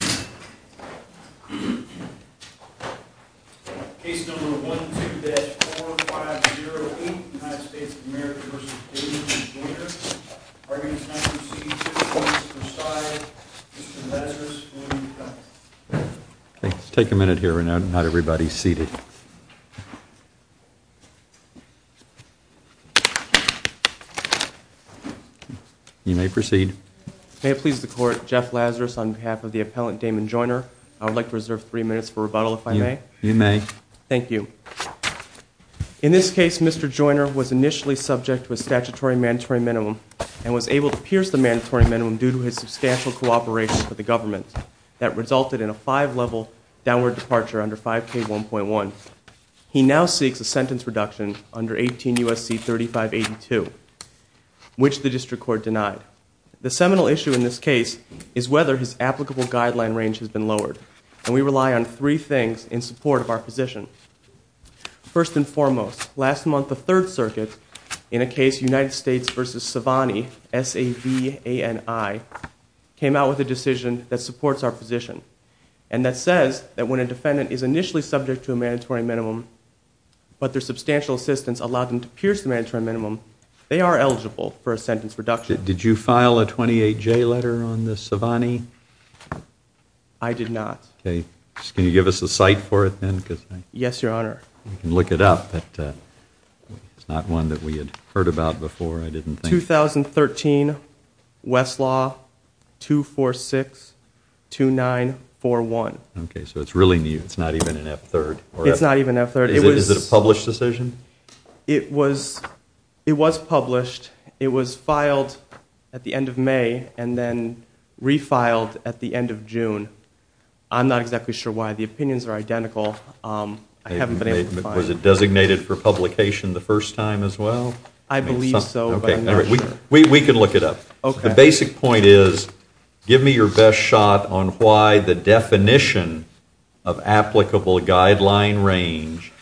are going to now proceed to the court to preside. Mr. Lazarus, will you come up? Take a minute here. Not everybody is seated. You may proceed. May it please the court, Jeff Lazarus on behalf of the appellant Damon Joiner. I would like to reserve three minutes for rebuttal, if I may. You may. Thank you. In this case, Mr. Joiner was initially subject to a statutory mandatory minimum and was able to pierce the mandatory minimum due to his substantial cooperation with the government that resulted in a five-level downward departure under 5K1.1. He now seeks a sentence reduction under 18 U.S.C. 3582, which the district court denied. The seminal issue in this case is whether his applicable guideline range has been lowered. And we rely on three things in support of our position. First and foremost, last month the Third Circuit, in a case United States v. Savani, S-A-V-A-N-I, came out with a decision that supports our position. And that says that when a defendant is initially subject to a mandatory minimum, but their substantial assistance allowed them to pierce the mandatory minimum, they are eligible for a sentence reduction. Did you file a 28J letter on the Savani? I did not. Okay. Can you give us a cite for it then? Yes, Your Honor. I can look it up, but it's not one that we had heard about before, I didn't think. 2013, Westlaw, 246-2941. Okay, so it's really new. It's not even an F-3rd. It's not even an F-3rd. Is it a published decision? It was published. It was filed at the end of May and then refiled at the end of June. I'm not exactly sure why. The opinions are identical. Was it designated for publication the first time as well? I believe so, but I'm not sure. We can look it up. Okay. The basic point is, give me your best shot on why the definition of applicable guideline range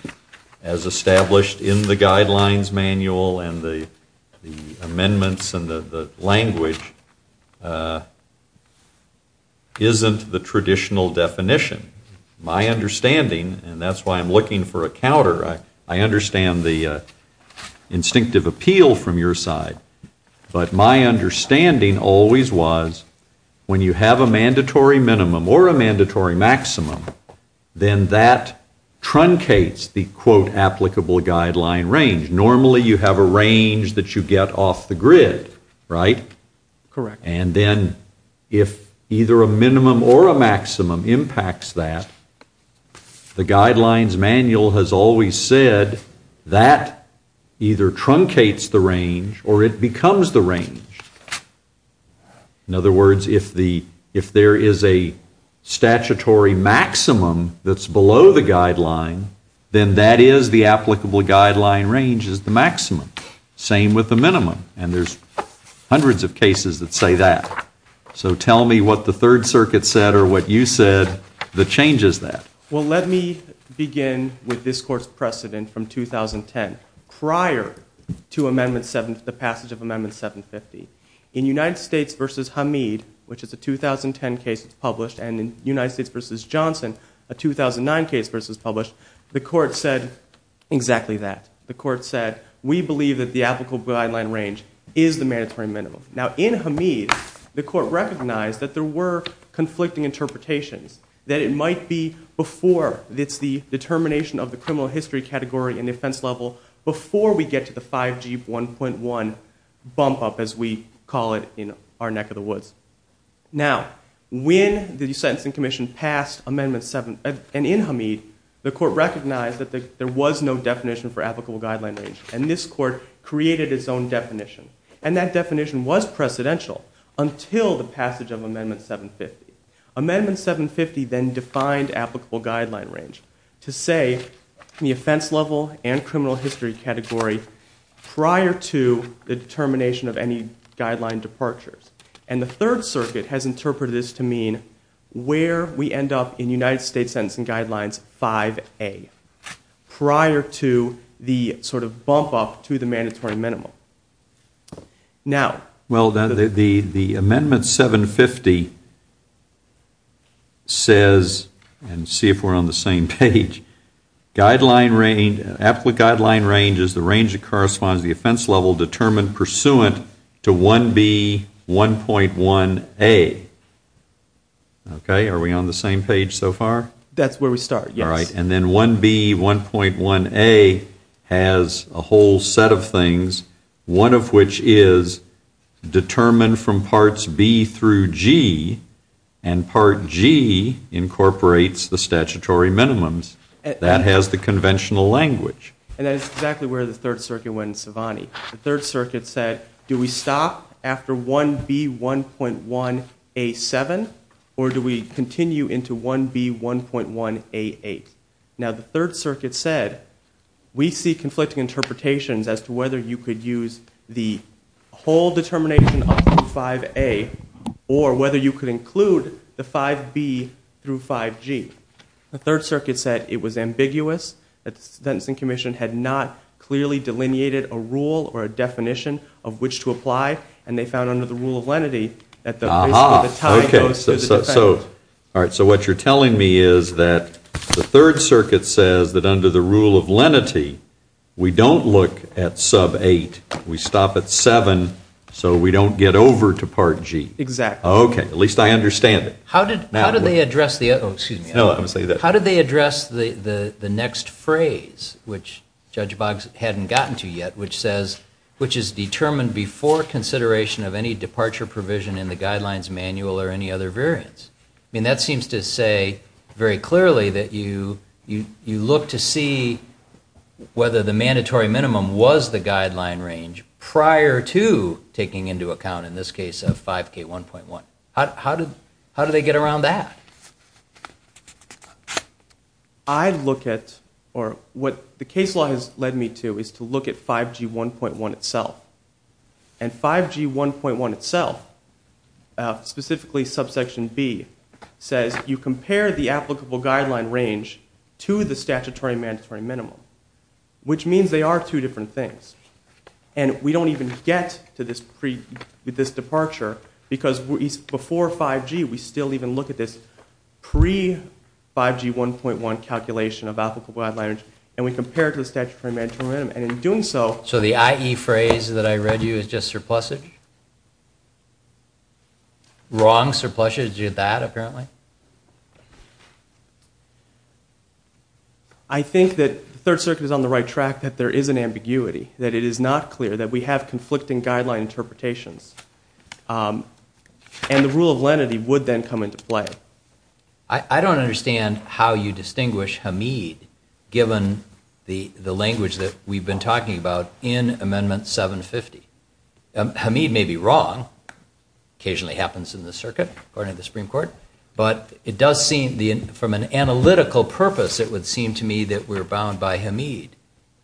as established in the guidelines manual and the amendments and the language isn't the traditional definition. My understanding, and that's why I'm looking for a counter, I understand the instinctive appeal from your side, but my understanding always was when you have a mandatory minimum or a mandatory maximum, then that truncates the quote applicable guideline range. Normally you have a range that you get off the grid, right? Correct. And then if either a minimum or a maximum impacts that, the guidelines manual has always said that either truncates the range or it becomes the range. In other words, if there is a statutory maximum that's below the guideline, then that is the applicable guideline range is the maximum. Same with the minimum. And there's hundreds of cases that say that. So tell me what the Third Circuit said or what you said that changes that. Well, let me begin with this Court's precedent from 2010. Prior to the passage of Amendment 750, in United States v. Hamid, which is a 2010 case that was published, and in United States v. Johnson, a 2009 case that was published, the Court said exactly that. The Court said, we believe that the applicable guideline range is the mandatory minimum. Now in Hamid, the Court recognized that there were conflicting interpretations, that it might be before it's the determination of the criminal history category and defense level before we get to the 5G 1.1 bump up, as we call it in our neck of the woods. Now, when the Sentencing Commission passed Amendment 750, and in Hamid, the Court recognized that there was no definition for applicable guideline range. And this Court created its own definition. And that definition was precedential until the passage of Amendment 750. Amendment 750 then defined applicable guideline range to say the offense level and criminal history category prior to the determination of any guideline departures. And the Third Circuit has interpreted this to mean where we end up in United States Sentencing Guidelines 5A, prior to the sort of bump up to the mandatory minimum. Now... Well, the Amendment 750 says, and see if we're on the same page, applicable guideline range is the range that corresponds to the offense level determined pursuant to 1B.1.1A. Okay, are we on the same page so far? That's where we start, yes. All right. And then 1B.1.1A has a whole set of things, one of which is determined from Parts B through G, and Part G incorporates the statutory minimums. That has the conventional language. And that's exactly where the Third Circuit went in Savani. The Third Circuit said, do we stop after 1B.1.1A.7, or do we continue into 1B.1.1A.8? Now, the Third Circuit said, we see conflicting interpretations as to whether you could use the whole determination of 5A, or whether you could include the 5B through 5G. The Third Circuit said it was ambiguous, that the Sentencing Commission had not clearly delineated a rule or a definition of which to apply, and they found under the Rule of Lenity that the risk of a tie goes to the defendant. All right. So what you're telling me is that the Third Circuit says that under the Rule of Lenity, we don't look at Sub 8, we stop at 7, so we don't get over to Part G. Exactly. Okay. At least I understand it. How did they address the next phrase, which Judge Boggs hadn't gotten to yet, which is determined before consideration of any departure provision in the Guidelines Manual or any other variance? I mean, that seems to say very clearly that you look to see whether the mandatory minimum was the guideline range prior to taking into account, in this case, 5K.1.1. How did they get around that? I look at, or what the case law has led me to, is to look at 5G.1.1 itself. And 5G.1.1 itself, specifically Subsection B, says you compare the applicable guideline range to the statutory mandatory minimum, which means they are two different things. And we don't even get to this departure, because before 5G, we still even look at this pre-5G.1.1 calculation of applicable guideline range, and we compare it to the statutory mandatory minimum. And in doing so... So the IE phrase that I read you is just surplusage? Wrong surplusage? Is it that, apparently? I think that the Third Circuit is on the right track, that there is an ambiguity, that it is not clear that we have conflicting guideline interpretations. And the rule of lenity would then come into play. I don't understand how you distinguish Hamid, given the language that we've been talking about in Amendment 750. Hamid may be wrong. Occasionally happens in the circuit, according to the Supreme Court. But it does seem, from an analytical purpose, it would seem to me that we're bound by Hamid,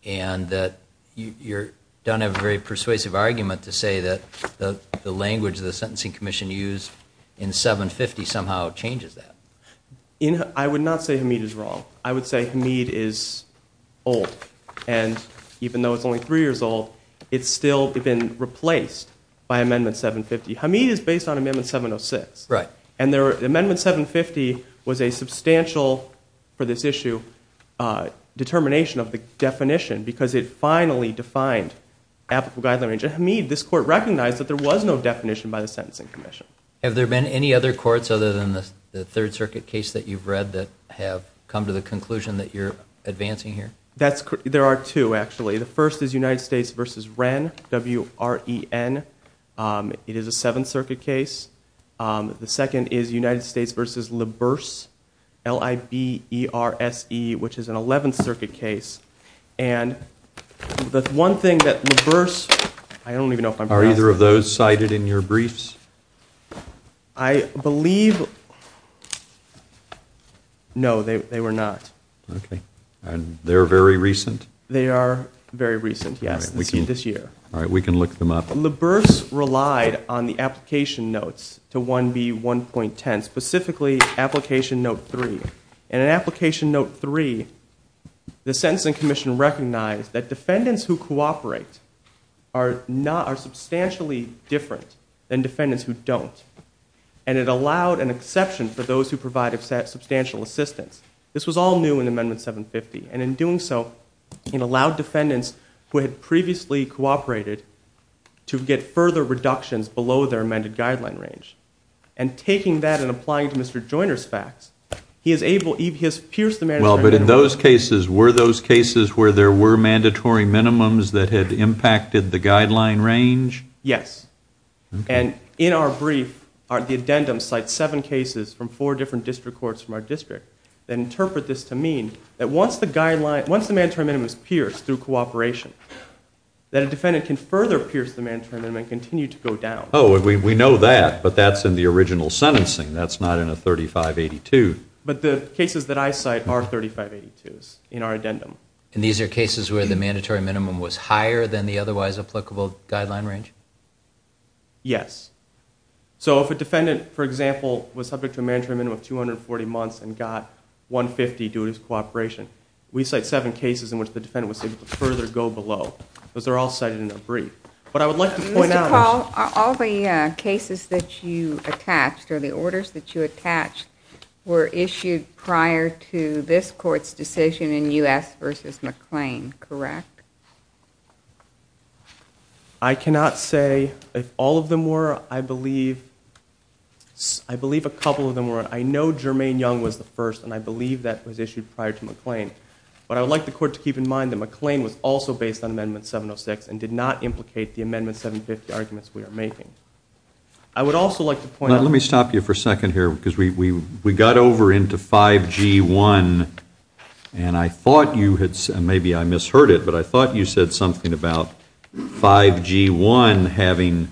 and that you don't have a very persuasive argument to say that the language the Sentencing Commission used in 750 somehow changes that. I would not say Hamid is wrong. I would say Hamid is old. And even though it's only three years old, it's still been replaced by Amendment 750. Hamid is based on Amendment 706. And Amendment 750 was a substantial, for this issue, determination of the definition, because it finally defined applicable guideline range. And Hamid, this Court recognized that there was no definition by the Sentencing Commission. Have there been any other courts, other than the Third Circuit case that you've read, that have come to the conclusion that you're advancing here? There are two, actually. The first is United States v. Wren, W-R-E-N. It is a Seventh Circuit case. The second is United States v. LaBerse, L-I-B-E-R-S-E, which is an Eleventh Circuit case. And the one thing that LaBerse—I don't even know if I'm— Are either of those cited in your briefs? I believe—no, they were not. Okay. And they're very recent? They are very recent, yes, this year. All right, we can look them up. LaBerse relied on the application notes to 1B1.10, specifically application note 3. And in application note 3, the Sentencing Commission recognized that defendants who cooperate are substantially different than defendants who don't. And it allowed an exception for those who provide substantial assistance. This was all new in Amendment 750. And in doing so, it allowed defendants who had previously cooperated to get further reductions below their amended guideline range. And taking that and applying it to Mr. Joyner's facts, he is able—he has pierced the mandatory minimum. Well, but in those cases, were those cases where there were mandatory minimums that had impacted the guideline range? Yes. And in our brief, the addendum cites seven cases from four different district courts from our district that interpret this to mean that once the guideline—once the mandatory minimum is pierced through cooperation, that a defendant can further pierce the mandatory minimum and continue to go down. Oh, we know that, but that's in the original sentencing. That's not in a 3582. But the cases that I cite are 3582s in our addendum. And these are cases where the mandatory minimum was higher than the otherwise applicable guideline range? Yes. So if a defendant, for example, was subject to a mandatory minimum of 240 months and got 150 due to his cooperation, we cite seven cases in which the defendant was able to further go below. Those are all cited in our brief. But I would like to point out— Mr. Call, all the cases that you attached or the orders that you attached were issued prior to this court's decision in U.S. v. McLean, correct? I cannot say if all of them were. I believe a couple of them were. I know Jermaine Young was the first, and I believe that was issued prior to McLean. But I would like the court to keep in mind that McLean was also based on Amendment 706 and did not implicate the Amendment 750 arguments we are making. I would also like to point out— Let me stop you for a second here, because we got over into 5G-1, and I thought you had—and maybe I misheard it, but I thought you said something about 5G-1 having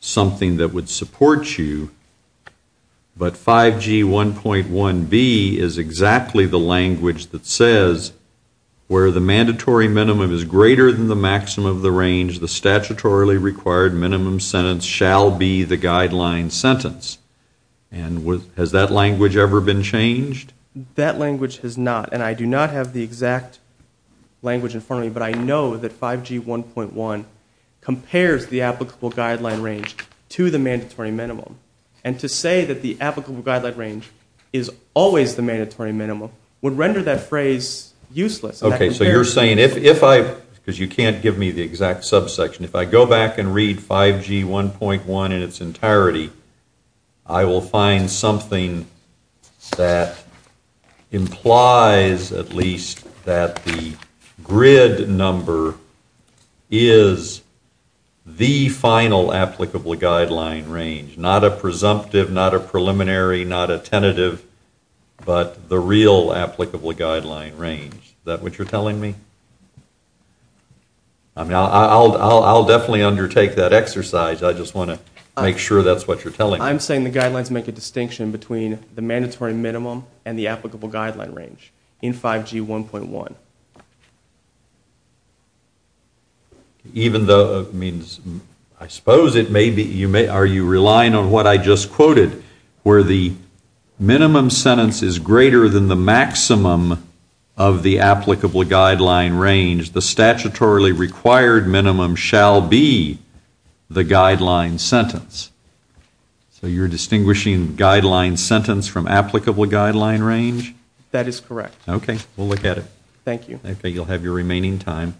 something that would support you. But 5G-1.1b is exactly the language that says, where the mandatory minimum is greater than the maximum of the range, the statutorily required minimum sentence shall be the guideline sentence. And has that language ever been changed? That language has not, and I do not have the exact language in front of me, but I know that 5G-1.1 compares the applicable guideline range to the mandatory minimum. And to say that the applicable guideline range is always the mandatory minimum would render that phrase useless. Okay, so you're saying if I—because you can't give me the exact subsection. If I go back and read 5G-1.1 in its entirety, I will find something that implies at least that the grid number is the final applicable guideline range, not a presumptive, not a preliminary, not a tentative, but the real applicable guideline range. Is that what you're telling me? I mean, I'll definitely undertake that exercise. I just want to make sure that's what you're telling me. I'm saying the guidelines make a distinction between the mandatory minimum and the applicable guideline range in 5G-1.1. Even though it means—I suppose it may be— are you relying on what I just quoted, where the minimum sentence is greater than the maximum of the applicable guideline range, the statutorily required minimum shall be the guideline sentence. So you're distinguishing guideline sentence from applicable guideline range? That is correct. Okay, we'll look at it. Thank you. Okay, you'll have your remaining time.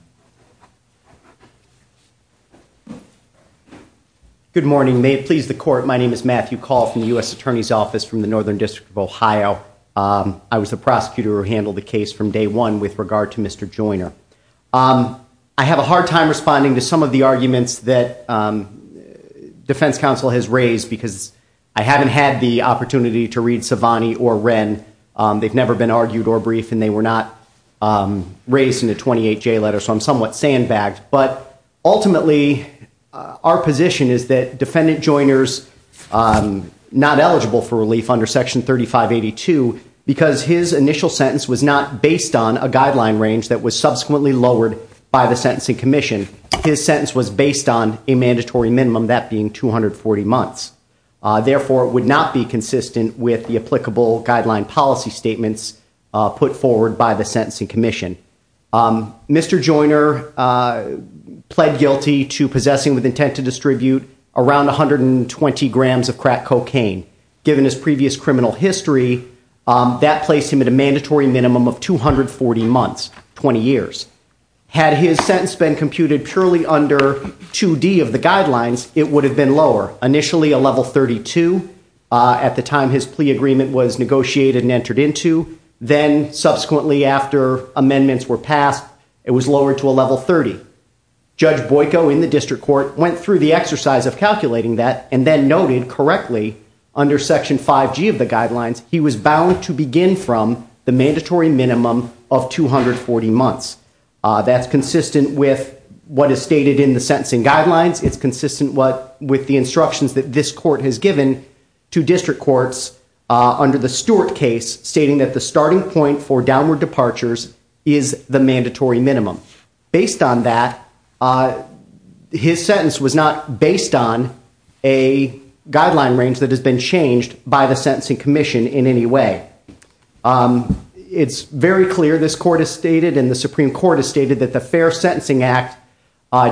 Good morning. May it please the Court, my name is Matthew Call from the U.S. Attorney's Office from the Northern District of Ohio. I was the prosecutor who handled the case from day one with regard to Mr. Joyner. I have a hard time responding to some of the arguments that Defense Counsel has raised because I haven't had the opportunity to read Savani or Wren. They've never been argued or briefed, and they were not raised in a 28-J letter, so I'm somewhat sandbagged. But ultimately, our position is that Defendant Joyner is not eligible for relief under Section 3582 because his initial sentence was not based on a guideline range that was subsequently lowered by the Sentencing Commission. His sentence was based on a mandatory minimum, that being 240 months. Therefore, it would not be consistent with the applicable guideline policy statements put forward by the Sentencing Commission. Mr. Joyner pled guilty to possessing with intent to distribute around 120 grams of crack cocaine. Given his previous criminal history, that placed him at a mandatory minimum of 240 months, 20 years. Had his sentence been computed purely under 2D of the guidelines, it would have been lower, initially a level 32 at the time his plea agreement was negotiated and entered into. Then subsequently, after amendments were passed, it was lowered to a level 30. Judge Boyko in the district court went through the exercise of calculating that and then noted correctly under Section 5G of the guidelines, he was bound to begin from the mandatory minimum of 240 months. That's consistent with what is stated in the sentencing guidelines. It's consistent with the instructions that this court has given to district courts under the Stewart case stating that the starting point for downward departures is the mandatory minimum. Based on that, his sentence was not based on a guideline range that has been changed by the Sentencing Commission in any way. It's very clear, this court has stated and the Supreme Court has stated, that the Fair Sentencing Act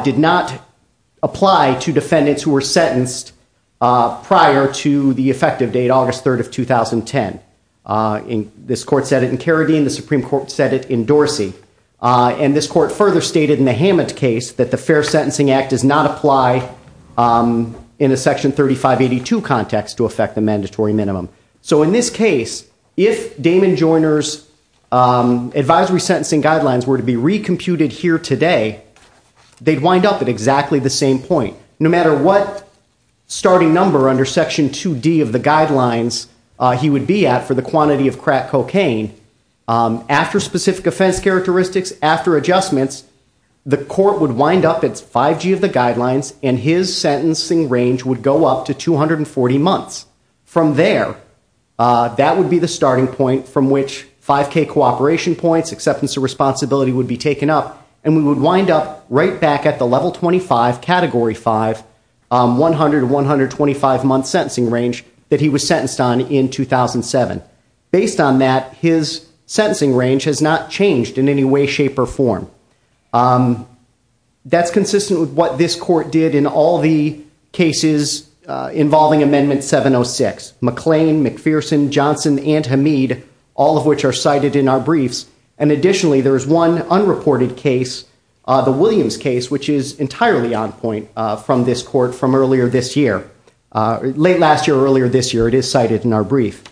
did not apply to defendants who were sentenced prior to the effective date, August 3rd of 2010. This court said it in Carradine, the Supreme Court said it in Dorsey. This court further stated in the Hammett case that the Fair Sentencing Act does not apply in a Section 3582 context to affect the mandatory minimum. In this case, if Damon Joyner's advisory sentencing guidelines were to be recomputed here today, they'd wind up at exactly the same point. No matter what starting number under Section 2D of the guidelines he would be at for the quantity of crack cocaine, after specific offense characteristics, after adjustments, the court would wind up at 5G of the guidelines and his sentencing range would go up to 240 months. From there, that would be the starting point from which 5K cooperation points, acceptance of responsibility would be taken up, and we would wind up right back at the Level 25, Category 5, 100-125 month sentencing range that he was sentenced on in 2007. Based on that, his sentencing range has not changed in any way, shape, or form. That's consistent with what this court did in all the cases involving Amendment 706. McLean, McPherson, Johnson, and Hamid, all of which are cited in our briefs. Additionally, there is one unreported case, the Williams case, which is entirely on point from this court from earlier this year. Late last year, earlier this year, it is cited in our brief.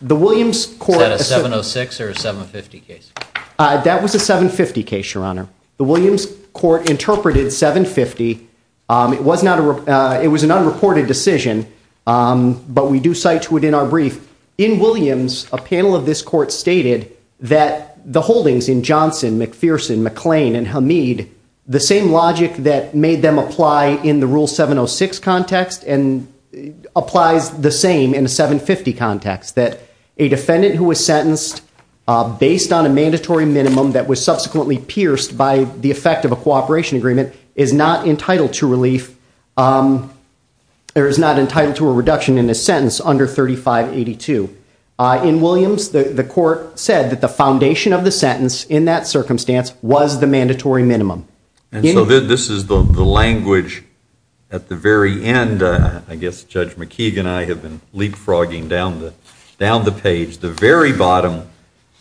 Is that a 706 or a 750 case? That was a 750 case, Your Honor. The Williams court interpreted 750. It was an unreported decision, but we do cite to it in our brief. In Williams, a panel of this court stated that the holdings in Johnson, McPherson, McLean, and Hamid, the same logic that made them apply in the Rule 706 context and applies the same in the 750 context, that a defendant who was sentenced based on a mandatory minimum that was subsequently pierced by the effect of a cooperation agreement is not entitled to a reduction in his sentence under 3582. In Williams, the court said that the foundation of the sentence in that circumstance was the mandatory minimum. And so this is the language at the very end. I guess Judge McKeague and I have been leapfrogging down the page. The very bottom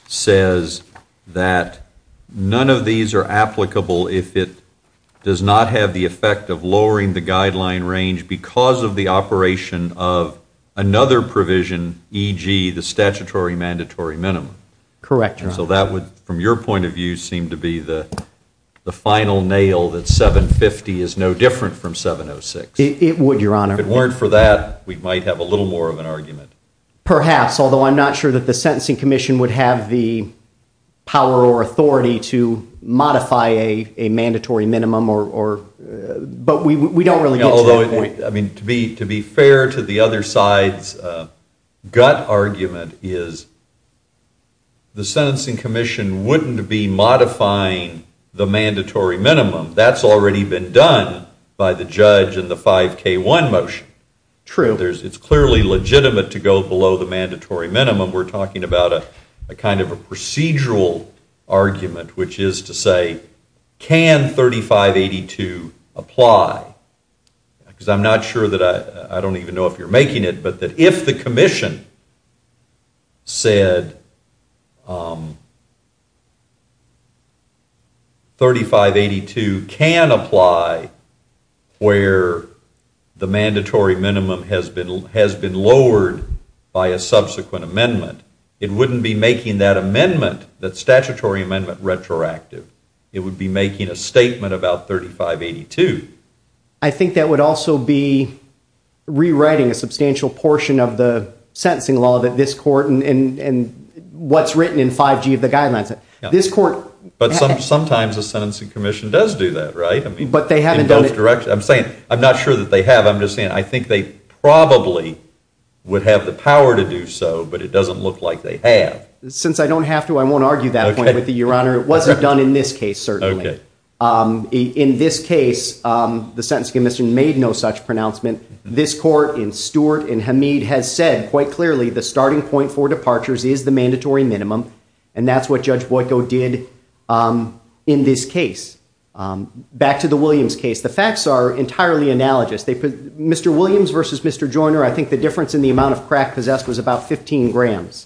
says that none of these are applicable if it does not have the effect of lowering the guideline range because of the operation of another provision, e.g., the statutory mandatory minimum. Correct, Your Honor. So that would, from your point of view, seem to be the final nail that 750 is no different from 706. It would, Your Honor. If it weren't for that, we might have a little more of an argument. Perhaps, although I'm not sure that the Sentencing Commission would have the power or authority to modify a mandatory minimum, but we don't really get to that point. Although, I mean, to be fair to the other side's gut argument is the Sentencing Commission wouldn't be modifying the mandatory minimum. That's already been done by the judge in the 5K1 motion. True. However, it's clearly legitimate to go below the mandatory minimum. We're talking about a kind of a procedural argument, which is to say, can 3582 apply? Because I'm not sure that I don't even know if you're making it, but that if the commission said 3582 can apply where the mandatory minimum has been lowered by a subsequent amendment, it wouldn't be making that amendment, that statutory amendment, retroactive. It would be making a statement about 3582. I think that would also be rewriting a substantial portion of the sentencing law that this court and what's written in 5G of the guidelines. But sometimes the Sentencing Commission does do that, right? But they haven't done it. I'm not sure that they have. I'm just saying I think they probably would have the power to do so, but it doesn't look like they have. Since I don't have to, I won't argue that point with you, Your Honor. It wasn't done in this case, certainly. In this case, the Sentencing Commission made no such pronouncement. This court in Stewart and Hamid has said quite clearly the starting point for departures is the mandatory minimum, and that's what Judge Boyko did in this case. Back to the Williams case, the facts are entirely analogous. Mr. Williams versus Mr. Joyner, I think the difference in the amount of crack possessed was about 15 grams.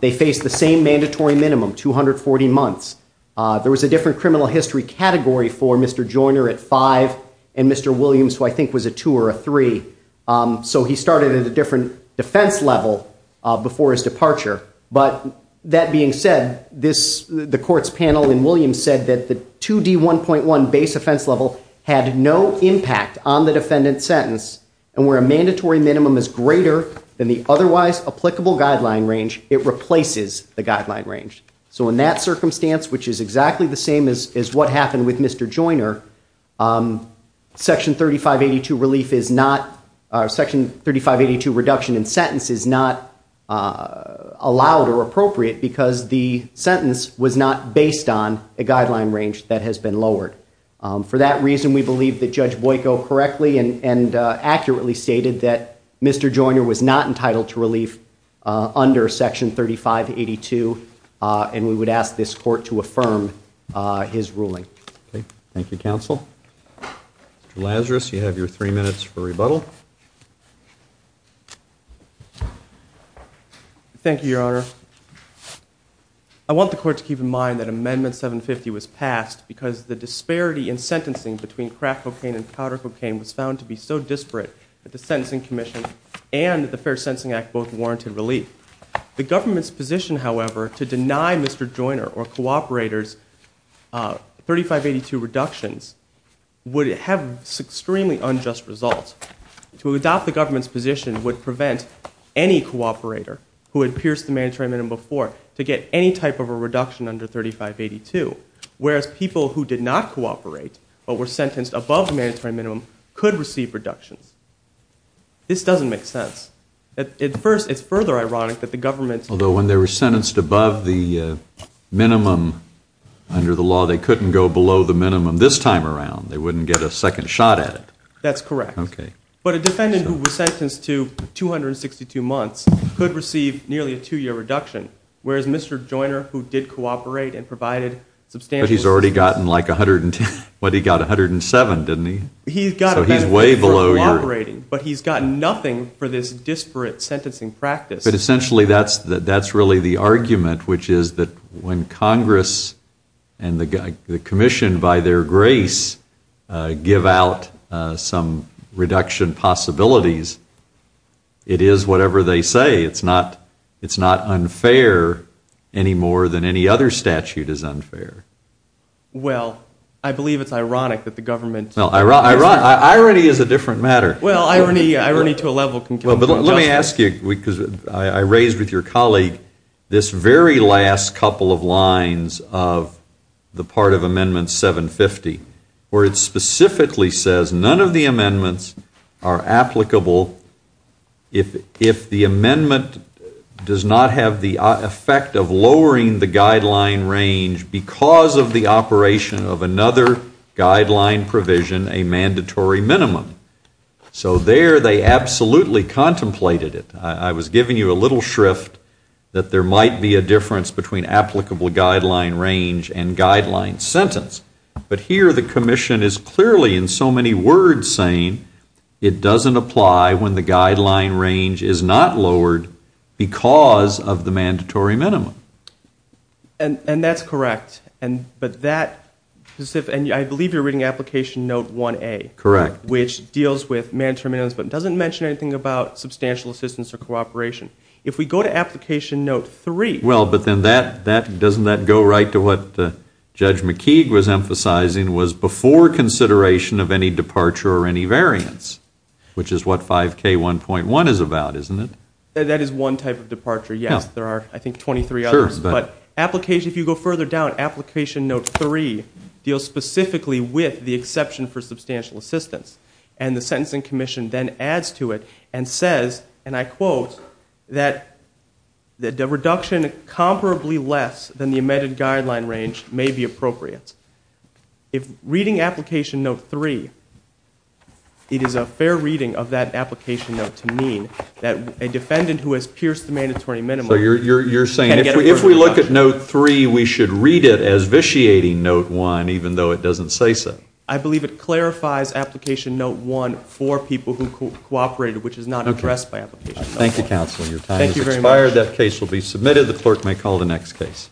They faced the same mandatory minimum, 240 months. There was a different criminal history category for Mr. Joyner at five and Mr. Williams, who I think was a two or a three. So he started at a different defense level before his departure. But that being said, the court's panel in Williams said that the 2D1.1 base offense level had no impact on the defendant's sentence, and where a mandatory minimum is greater than the otherwise applicable guideline range, it replaces the guideline range. So in that circumstance, which is exactly the same as what happened with Mr. Joyner, Section 3582 reduction in sentence is not allowed or appropriate because the sentence was not based on a guideline range that has been lowered. For that reason, we believe that Judge Boyko correctly and accurately stated that Mr. Joyner was not entitled to relief under Section 3582, and we would ask this court to affirm his ruling. Thank you, counsel. Mr. Lazarus, you have your three minutes for rebuttal. Thank you, Your Honor. I want the court to keep in mind that Amendment 750 was passed because the disparity in sentencing between crack cocaine and powder cocaine was found to be so disparate that the Sentencing Commission and the Fair Sentencing Act both warranted relief. The government's position, however, to deny Mr. Joyner or cooperators 3582 reductions would have extremely unjust results. To adopt the government's position would prevent any cooperator who had pierced the mandatory minimum before to get any type of a reduction under 3582, whereas people who did not cooperate but were sentenced above the mandatory minimum could receive reductions. This doesn't make sense. At first, it's further ironic that the government's Although when they were sentenced above the minimum under the law, they couldn't go below the minimum this time around. They wouldn't get a second shot at it. That's correct. But a defendant who was sentenced to 262 months could receive nearly a two-year reduction, whereas Mr. Joyner who did cooperate and provided substantial But he's already gotten like 110. What, he got 107, didn't he? So he's way below your But he's gotten nothing for this disparate sentencing practice. But essentially that's really the argument, which is that when Congress and the commission by their grace give out some reduction possibilities, it is whatever they say. It's not unfair any more than any other statute is unfair. Well, I believe it's ironic that the government Well, irony is a different matter. Well, irony to a level Well, but let me ask you, because I raised with your colleague this very last couple of lines of the part of Amendment 750 where it specifically says none of the amendments are applicable if the amendment does not have the effect of lowering the guideline range because of the operation of another guideline provision, a mandatory minimum. So there they absolutely contemplated it. I was giving you a little shrift that there might be a difference between applicable guideline range and guideline sentence. But here the commission is clearly in so many words saying it doesn't apply when the guideline range is not lowered because of the mandatory minimum. And that's correct. I believe you're reading Application Note 1A. Correct. Which deals with mandatory minimums but doesn't mention anything about substantial assistance or cooperation. If we go to Application Note 3 Well, but then doesn't that go right to what Judge McKeague was emphasizing was before consideration of any departure or any variance, which is what 5K1.1 is about, isn't it? That is one type of departure, yes. There are, I think, 23 others. But if you go further down, Application Note 3 deals specifically with the exception for substantial assistance. And the Sentencing Commission then adds to it and says, and I quote, that the reduction comparably less than the amended guideline range may be appropriate. If reading Application Note 3, it is a fair reading of that Application Note to mean that a defendant who has pierced the mandatory minimum So you're saying if we look at Note 3, we should read it as vitiating Note 1 even though it doesn't say so. I believe it clarifies Application Note 1 for people who cooperated, which is not addressed by Application Note 1. Thank you, counsel. Your time has expired. That case will be submitted. The clerk may call the next case.